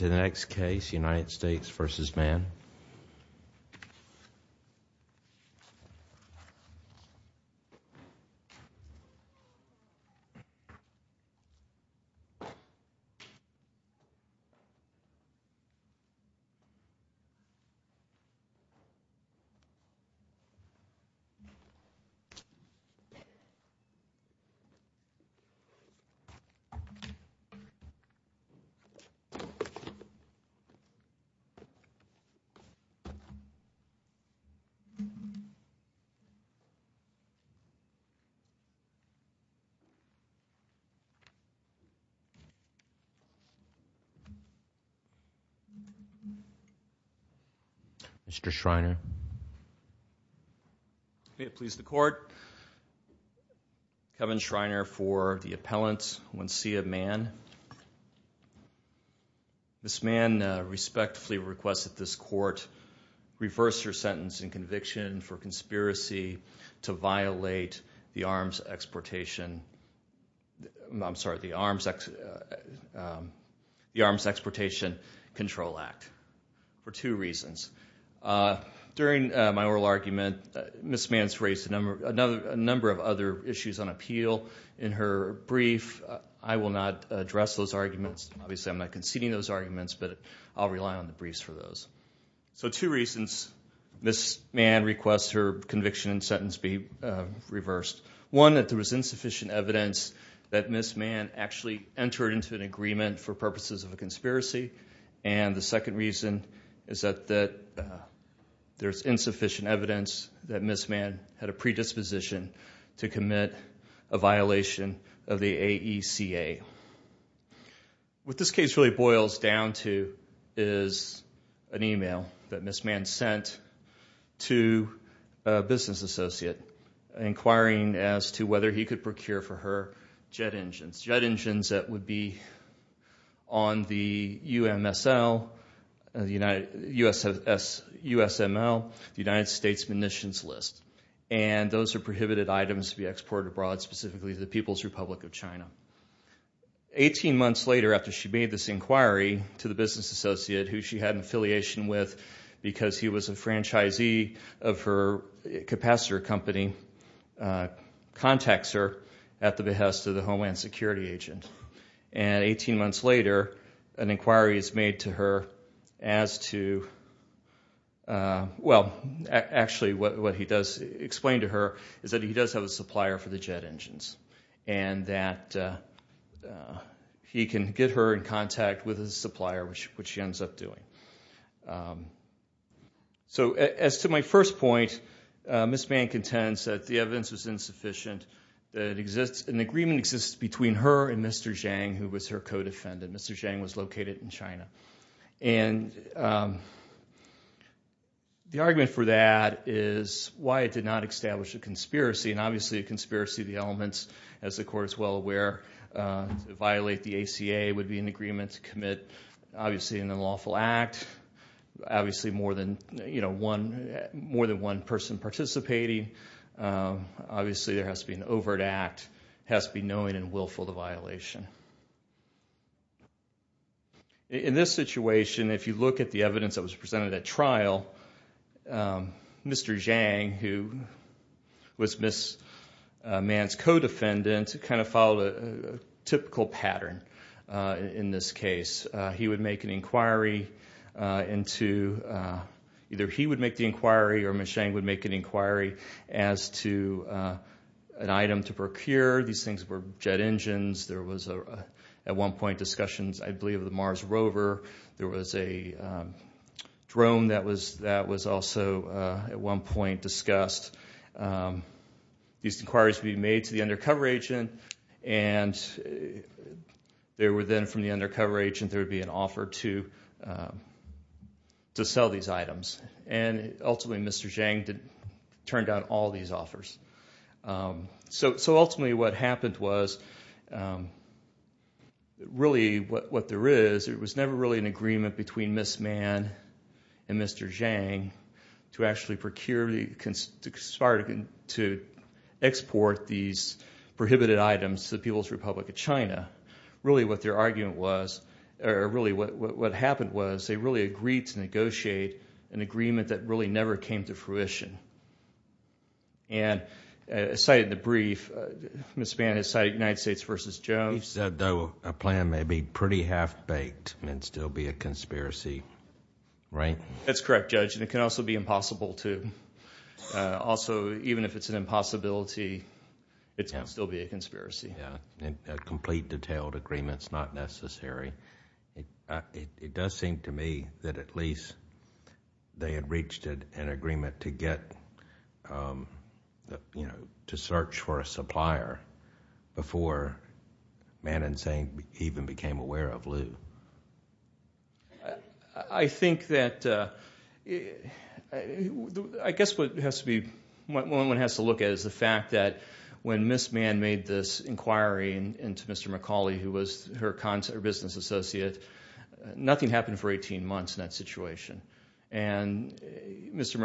Next case United States v. Mann Kevin Shriner for the appellant, Wenxia Mann Ms. Mann respectfully requests that this court reverse her sentence in conviction for conspiracy to violate the Arms Exportation Control Act for two reasons. During my oral argument, Ms. Mann has raised a number of other issues on appeal in her brief. I will not address those arguments. Obviously, I am not conceding those arguments, but I will rely on the briefs for those. Two reasons Ms. Mann requests her conviction and sentence be reversed. One, that there is insufficient evidence that Ms. Mann actually entered into an agreement for purposes of a conspiracy. The second reason is that there is insufficient evidence that What this case really boils down to is an email that Ms. Mann sent to a business associate inquiring as to whether he could procure for her jet engines. Jet engines that would be on the USML, the United States Munitions List. Those are prohibited items to be exported abroad, specifically to the People's Republic of China. Eighteen months later, after she made this inquiry to the business associate, who she had an affiliation with because he was a franchisee of her capacitor company, contacts her at the behest of the Homeland Security agent. Eighteen months later, an inquiry is made to her as to, well, actually what he does explain to her is that he does have a supplier for the jet engines and that he can get her in contact with his supplier, which she ends up doing. So as to my first point, Ms. Mann contends that the evidence was insufficient, that an agreement exists between her and Mr. Zhang, who was her co-defendant. Mr. Zhang was located in China. And the argument for that is why it did not establish a conspiracy. And obviously, a conspiracy of the elements, as the Court is well aware, to violate the ACA would be an agreement to commit, obviously, an unlawful act. Obviously, more than one person participating. Obviously, there has to be an overt act, has to be knowing and willful of the violation. In this situation, if you look at the evidence that was presented at trial, Mr. Zhang, who was Ms. Mann's co-defendant, kind of followed a typical pattern in this case. He would make an inquiry into, either he would make the inquiry or Ms. Zhang would make an inquiry as to an item to procure. These things were jet engines. There was, at one point, discussions, I believe, of the Mars rover. There was a drone that was also, at one point, discussed. These inquiries would be made to the undercover agent. And there would then, from the undercover So ultimately, what happened was, really, what there is, it was never really an agreement between Ms. Mann and Mr. Zhang to actually procure, to export these prohibited items to the People's Republic of China. Really, what their argument was, or really what happened was, they really agreed to negotiate an agreement that really never came to fruition. And, as cited in the brief, Ms. Mann has cited United States v. Jones... You said, though, a plan may be pretty half-baked and still be a conspiracy, right? That's correct, Judge, and it can also be impossible, too. Also, even if it's an impossibility, it can still be a conspiracy. Yeah, a complete, detailed agreement is not necessary. It does seem to me that at least they had reached an agreement to search for a supplier before Mann and Zhang even became aware of Liu. I think that... I guess what one has to look at is the fact that when Ms. Mann made this inquiry into Mr. McCauley, who was her business associate, nothing happened for 18 months in that situation. Mr.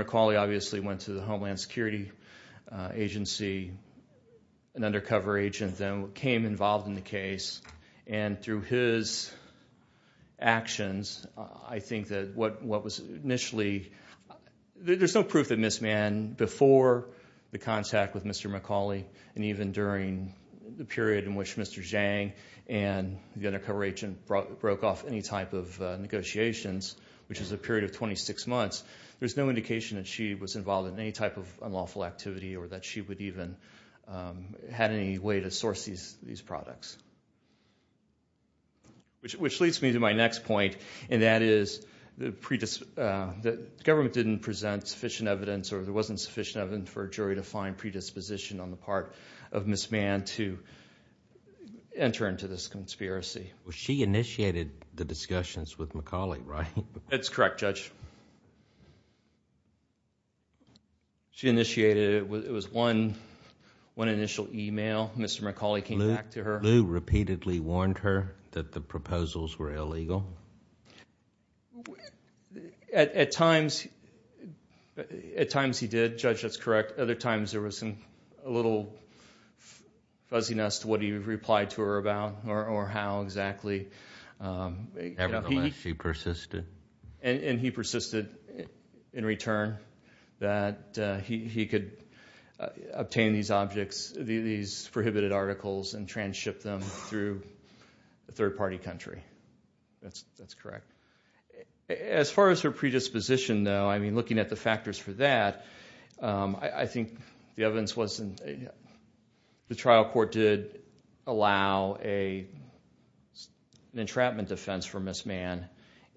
McCauley, obviously, went to the Homeland Security agency, an undercover agent, and became involved in the case. And, through his actions, I think that what was initially... there's no proof that Ms. Mann, before the contact with Mr. McCauley and even during the period in which Mr. Zhang and the undercover agent broke off any type of negotiations, which is a period of 26 months, there's no indication that she was involved in any type of unlawful activity or that she would even have any way to source these products. Which leads me to my next point, and that is that the government didn't present sufficient evidence or there wasn't sufficient evidence for a jury to find predisposition on the part of Ms. Mann to enter into this conspiracy. She initiated the discussions with McCauley, right? That's correct, Judge. She initiated it. It was one initial email. Mr. McCauley came back to her. Liu repeatedly warned her that the proposals were illegal? At times he did, Judge. That's correct. Other times there was a little fuzziness to what he replied to her about or how exactly. Nevertheless, she persisted. And he persisted in return that he could obtain these objects, these prohibited articles, and transship them through a third-party country. That's correct. As far as her predisposition, though, I mean, looking at the factors for that, I think the evidence was the trial court did allow an entrapment defense for Ms. Mann,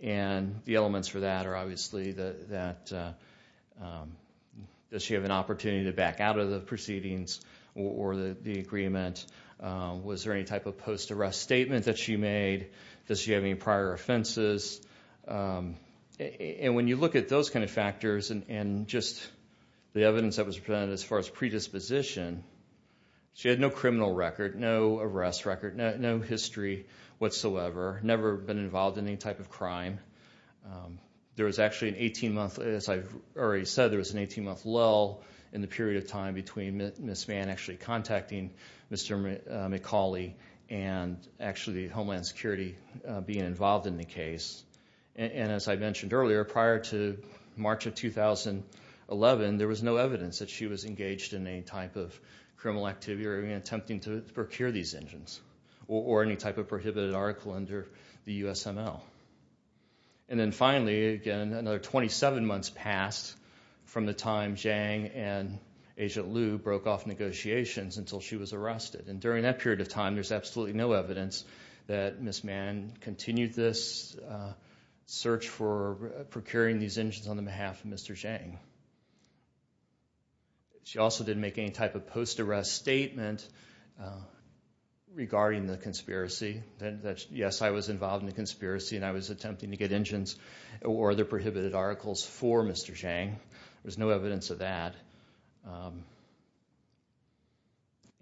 and the elements for that are obviously that she had an opportunity to back out of the proceedings or the agreement. Was there any type of post-arrest statement that she made? Does she have any prior offenses? And when you look at those kind of factors and just the evidence that was presented as far as predisposition, she had no criminal record, no arrest record, no history whatsoever, never been involved in any type of crime. There was actually an 18-month, as I've already said, there was an 18-month lull in the period of time between Ms. Mann actually contacting Mr. McCauley and actually Homeland Security being involved in the case. And as I mentioned earlier, prior to March of 2011, there was no evidence that she was engaged in any type of criminal activity or even attempting to procure these engines or any type of prohibited article under the USML. And then finally, again, another 27 months passed from the time Zhang and Agent Liu broke off negotiations until she was arrested. And during that period of time, there's absolutely no evidence that Ms. Mann continued this search for procuring these engines on the behalf of Mr. Zhang. She also didn't make any type of post-arrest statement regarding the conspiracy. Yes, I was involved in the conspiracy and I was attempting to get engines or other prohibited articles for Mr. Zhang. There's no evidence of that.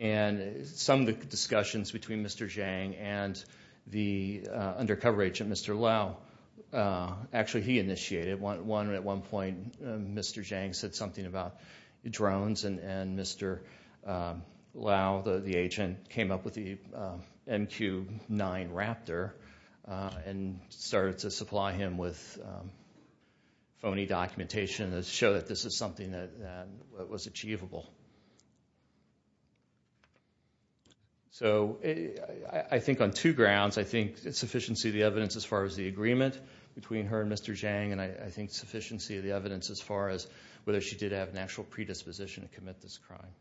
And some of the discussions between Mr. Zhang and the undercover agent, Mr. Liu, actually he initiated one. At one point, Mr. Zhang said something about drones and Mr. Liu, the agent, came up with the MQ-9 Raptor and started to supply him with phony documentation to show that this is something that was achievable. So I think on two grounds. I think it's sufficiency of the evidence as far as the agreement between her and Mr. Zhang and I think sufficiency of the evidence as far as whether she did have an actual predisposition to commit this crime.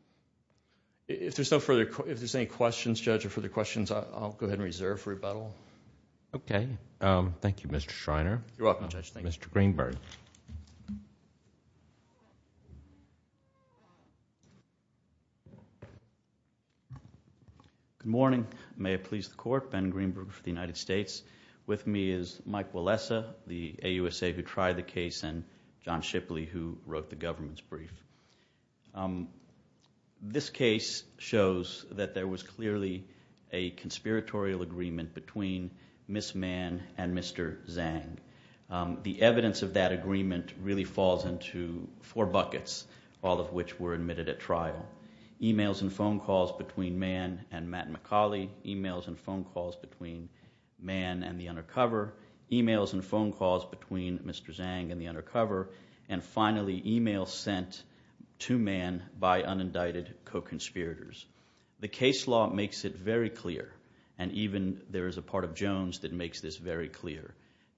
If there's any questions, Judge, or further questions, I'll go ahead and reserve for rebuttal. Okay. Thank you, Mr. Schreiner. You're welcome, Judge. Thank you. Mr. Greenberg. Good morning. May it please the Court. Ben Greenberg for the United States. With me is Mike Wellesa, the AUSA who tried the case, and John Shipley who wrote the government's brief. This case shows that there was clearly a conspiratorial agreement between Ms. Mann and Mr. Zhang. The evidence of that agreement really falls into four buckets, all of which were admitted at trial. Emails and phone calls between Mann and Matt McCauley. Emails and phone calls between Mann and the undercover. Emails and phone calls between Mr. Zhang and the undercover. And finally, emails sent to Mann by unindicted co-conspirators. The case law makes it very clear, and even there is a part of Jones that makes this very clear,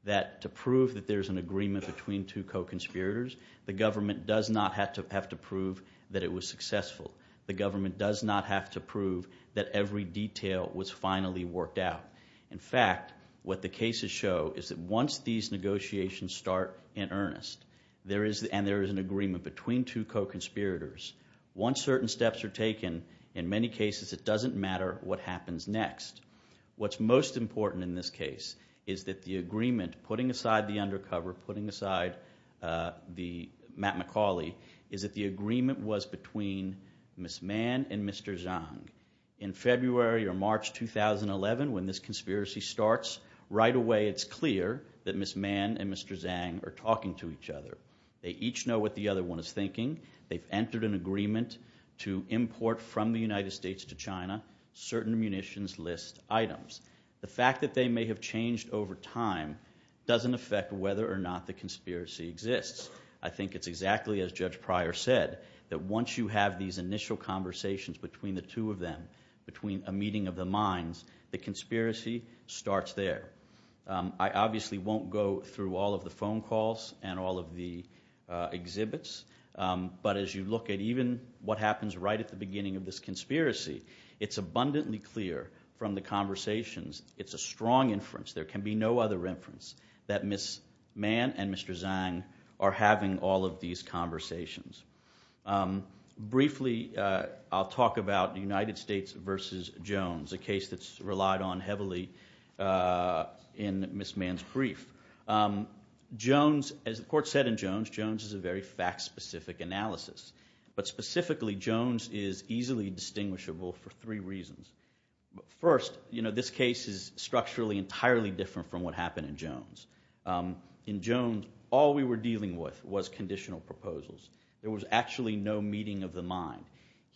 that to prove that there's an agreement between two co-conspirators, the government does not have to prove that it was successful. The government does not have to prove that every detail was finally worked out. In fact, what the cases show is that once these negotiations start in earnest, and there is an agreement between two co-conspirators, once certain steps are taken, in many cases it doesn't matter what happens next. What's most important in this case is that the agreement, putting aside the undercover, putting aside Matt McCauley, is that the agreement was between Ms. Mann and Mr. Zhang. In February or March 2011, when this conspiracy starts, right away it's clear that Ms. Mann and Mr. Zhang are talking to each other. They each know what the other one is thinking. They've entered an agreement to import from the United States to China certain munitions list items. The fact that they may have changed over time doesn't affect whether or not the conspiracy exists. I think it's exactly as Judge Pryor said, that once you have these initial conversations between the two of them, between a meeting of the minds, the conspiracy starts there. I obviously won't go through all of the phone calls and all of the exhibits, but as you look at even what happens right at the beginning of this conspiracy, it's abundantly clear from the conversations, it's a strong inference, there can be no other inference, that Ms. Mann and Mr. Zhang are having all of these conversations. Briefly, I'll talk about the United States versus Jones, a case that's relied on heavily in Ms. Mann's brief. Jones, as the court said in Jones, Jones is a very fact-specific analysis. But specifically, Jones is easily distinguishable for three reasons. First, this case is structurally entirely different from what happened in Jones. In Jones, all we were dealing with was conditional proposals. There was actually no meeting of the mind.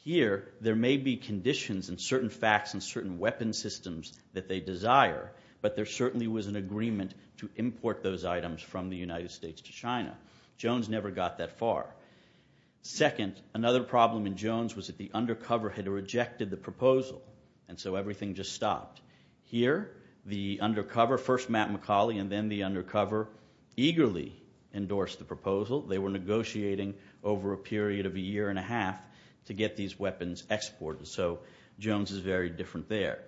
Here, there may be conditions and certain facts and certain weapon systems that they desire, but there certainly was an agreement to import those items from the United States to China. Jones never got that far. Second, another problem in Jones was that the undercover had rejected the proposal, and so everything just stopped. Here, the undercover, first Matt McCauley and then the undercover, eagerly endorsed the proposal. They were negotiating over a period of a year and a half to get these weapons exported, so Jones is very different there.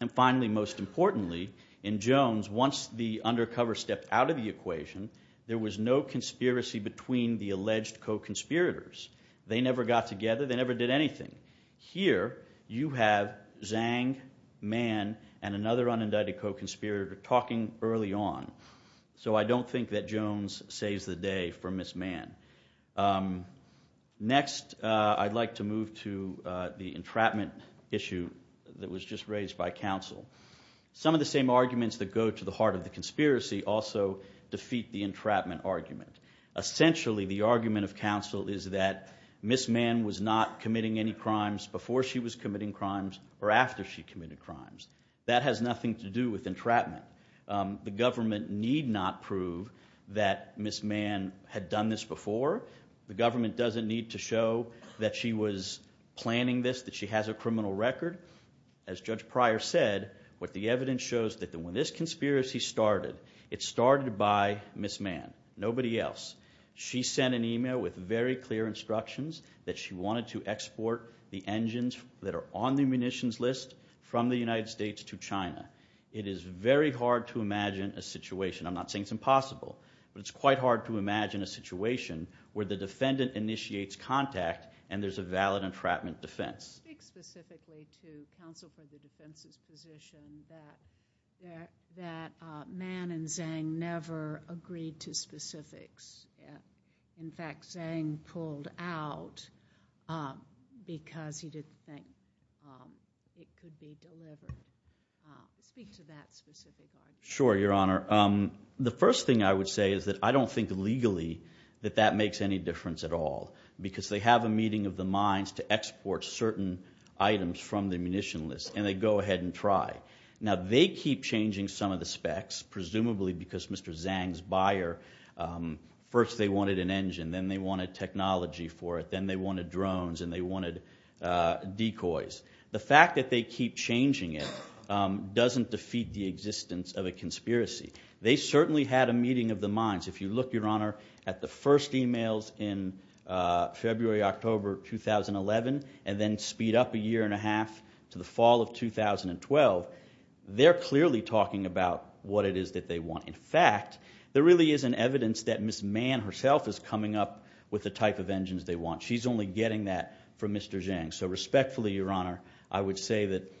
And finally, most importantly, in Jones, once the undercover stepped out of the equation, there was no conspiracy between the alleged co-conspirators. They never got together. They never did anything. Here, you have Zhang, Mann, and another unindicted co-conspirator talking early on. So I don't think that Jones saves the day for Ms. Mann. Next, I'd like to move to the entrapment issue that was just raised by counsel. Some of the same arguments that go to the heart of the conspiracy also defeat the entrapment argument. Essentially, the argument of counsel is that Ms. Mann was not committing any crimes before she was committing crimes or after she committed crimes. That has nothing to do with entrapment. The government need not prove that Ms. Mann had done this before. The government doesn't need to show that she was planning this, that she has a criminal record. As Judge Pryor said, what the evidence shows that when this conspiracy started, it started by Ms. Mann, nobody else. She sent an email with very clear instructions that she wanted to export the engines that are on the munitions list from the United States to China. It is very hard to imagine a situation. I'm not saying it's impossible, but it's quite hard to imagine a situation where the defendant initiates contact and there's a valid entrapment defense. Speak specifically to counsel for the defense's position that Mann and Zhang never agreed to specifics. In fact, Zhang pulled out because he didn't think it could be delivered. Speak to that specific argument. Sure, Your Honor. The first thing I would say is that I don't think legally that that makes any difference at all because they have a meeting of the minds to export certain items from the munition list, and they go ahead and try. Now, they keep changing some of the specs, presumably because Mr. Zhang's buyer, first they wanted an engine, then they wanted technology for it, then they wanted drones and they wanted decoys. The fact that they keep changing it doesn't defeat the existence of a conspiracy. They certainly had a meeting of the minds. If you look, Your Honor, at the first emails in February, October 2011, and then speed up a year and a half to the fall of 2012, they're clearly talking about what it is that they want. In fact, there really isn't evidence that Ms. Mann herself is coming up with the type of engines they want. She's only getting that from Mr. Zhang. So respectfully, Your Honor, I would say that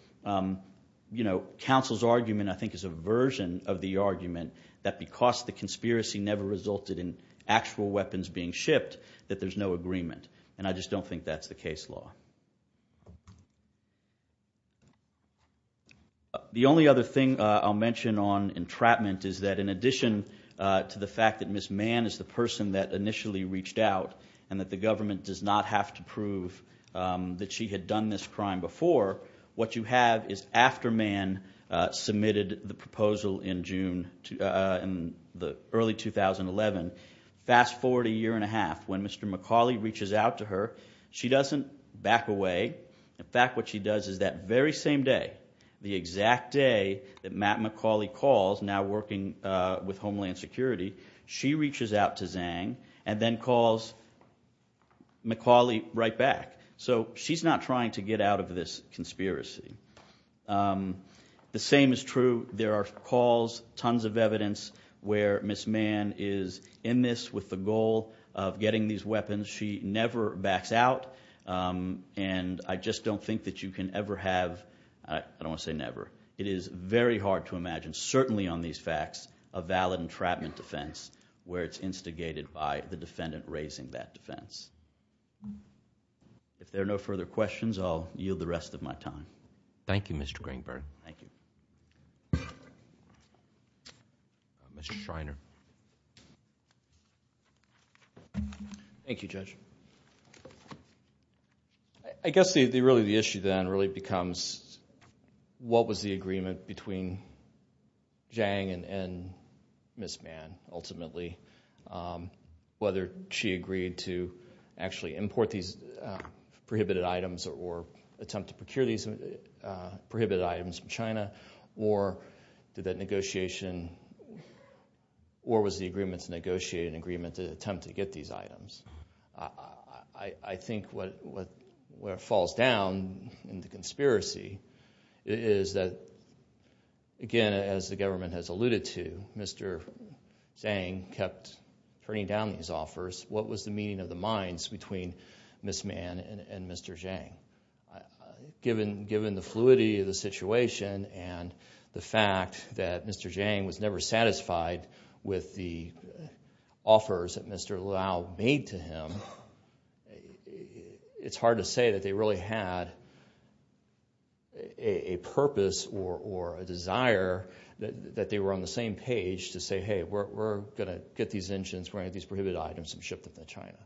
counsel's argument, I think, is a version of the argument that because the conspiracy never resulted in actual weapons being shipped, that there's no agreement. And I just don't think that's the case law. The only other thing I'll mention on entrapment is that in addition to the fact that Ms. Mann is the person that initially reached out and that the government does not have to prove that she had done this crime before, what you have is after Mann submitted the proposal in early 2011. Fast forward a year and a half. When Mr. McCauley reaches out to her, she doesn't back away. In fact, what she does is that very same day, the exact day that Matt McCauley calls, now working with Homeland Security, she reaches out to Zhang and then calls McCauley right back. So she's not trying to get out of this conspiracy. The same is true. There are calls, tons of evidence, where Ms. Mann is in this with the goal of getting these weapons. She never backs out, and I just don't think that you can ever have, I don't want to say never, it is very hard to imagine certainly on these facts a valid entrapment defense where it's instigated by the defendant raising that defense. If there are no further questions, I'll yield the rest of my time. Thank you, Mr. Greenberg. Thank you. Thank you, Judge. I guess really the issue then really becomes, what was the agreement between Zhang and Ms. Mann ultimately, whether she agreed to actually import these prohibited items or attempt to procure these prohibited items from China, or was the agreement to negotiate an agreement to attempt to get these items? I think what falls down in the conspiracy is that, again, as the government has alluded to, Mr. Zhang kept turning down these offers. What was the meeting of the minds between Ms. Mann and Mr. Zhang? Given the fluidity of the situation and the fact that Mr. Zhang was never satisfied with the offers that Mr. Lau made to him, it's hard to say that they really had a purpose or a desire that they were on the same page to say, hey, we're going to get these engines, bring out these prohibited items, and ship them to China.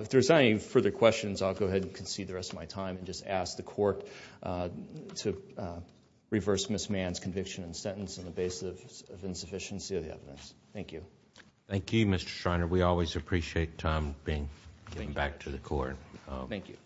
If there's not any further questions, I'll go ahead and concede the rest of my time and just ask the Court to reverse Ms. Mann's conviction and sentence on the basis of insufficiency of the evidence. Thank you. Thank you, Mr. Schreiner. We always appreciate Tom giving back to the Court. Thank you.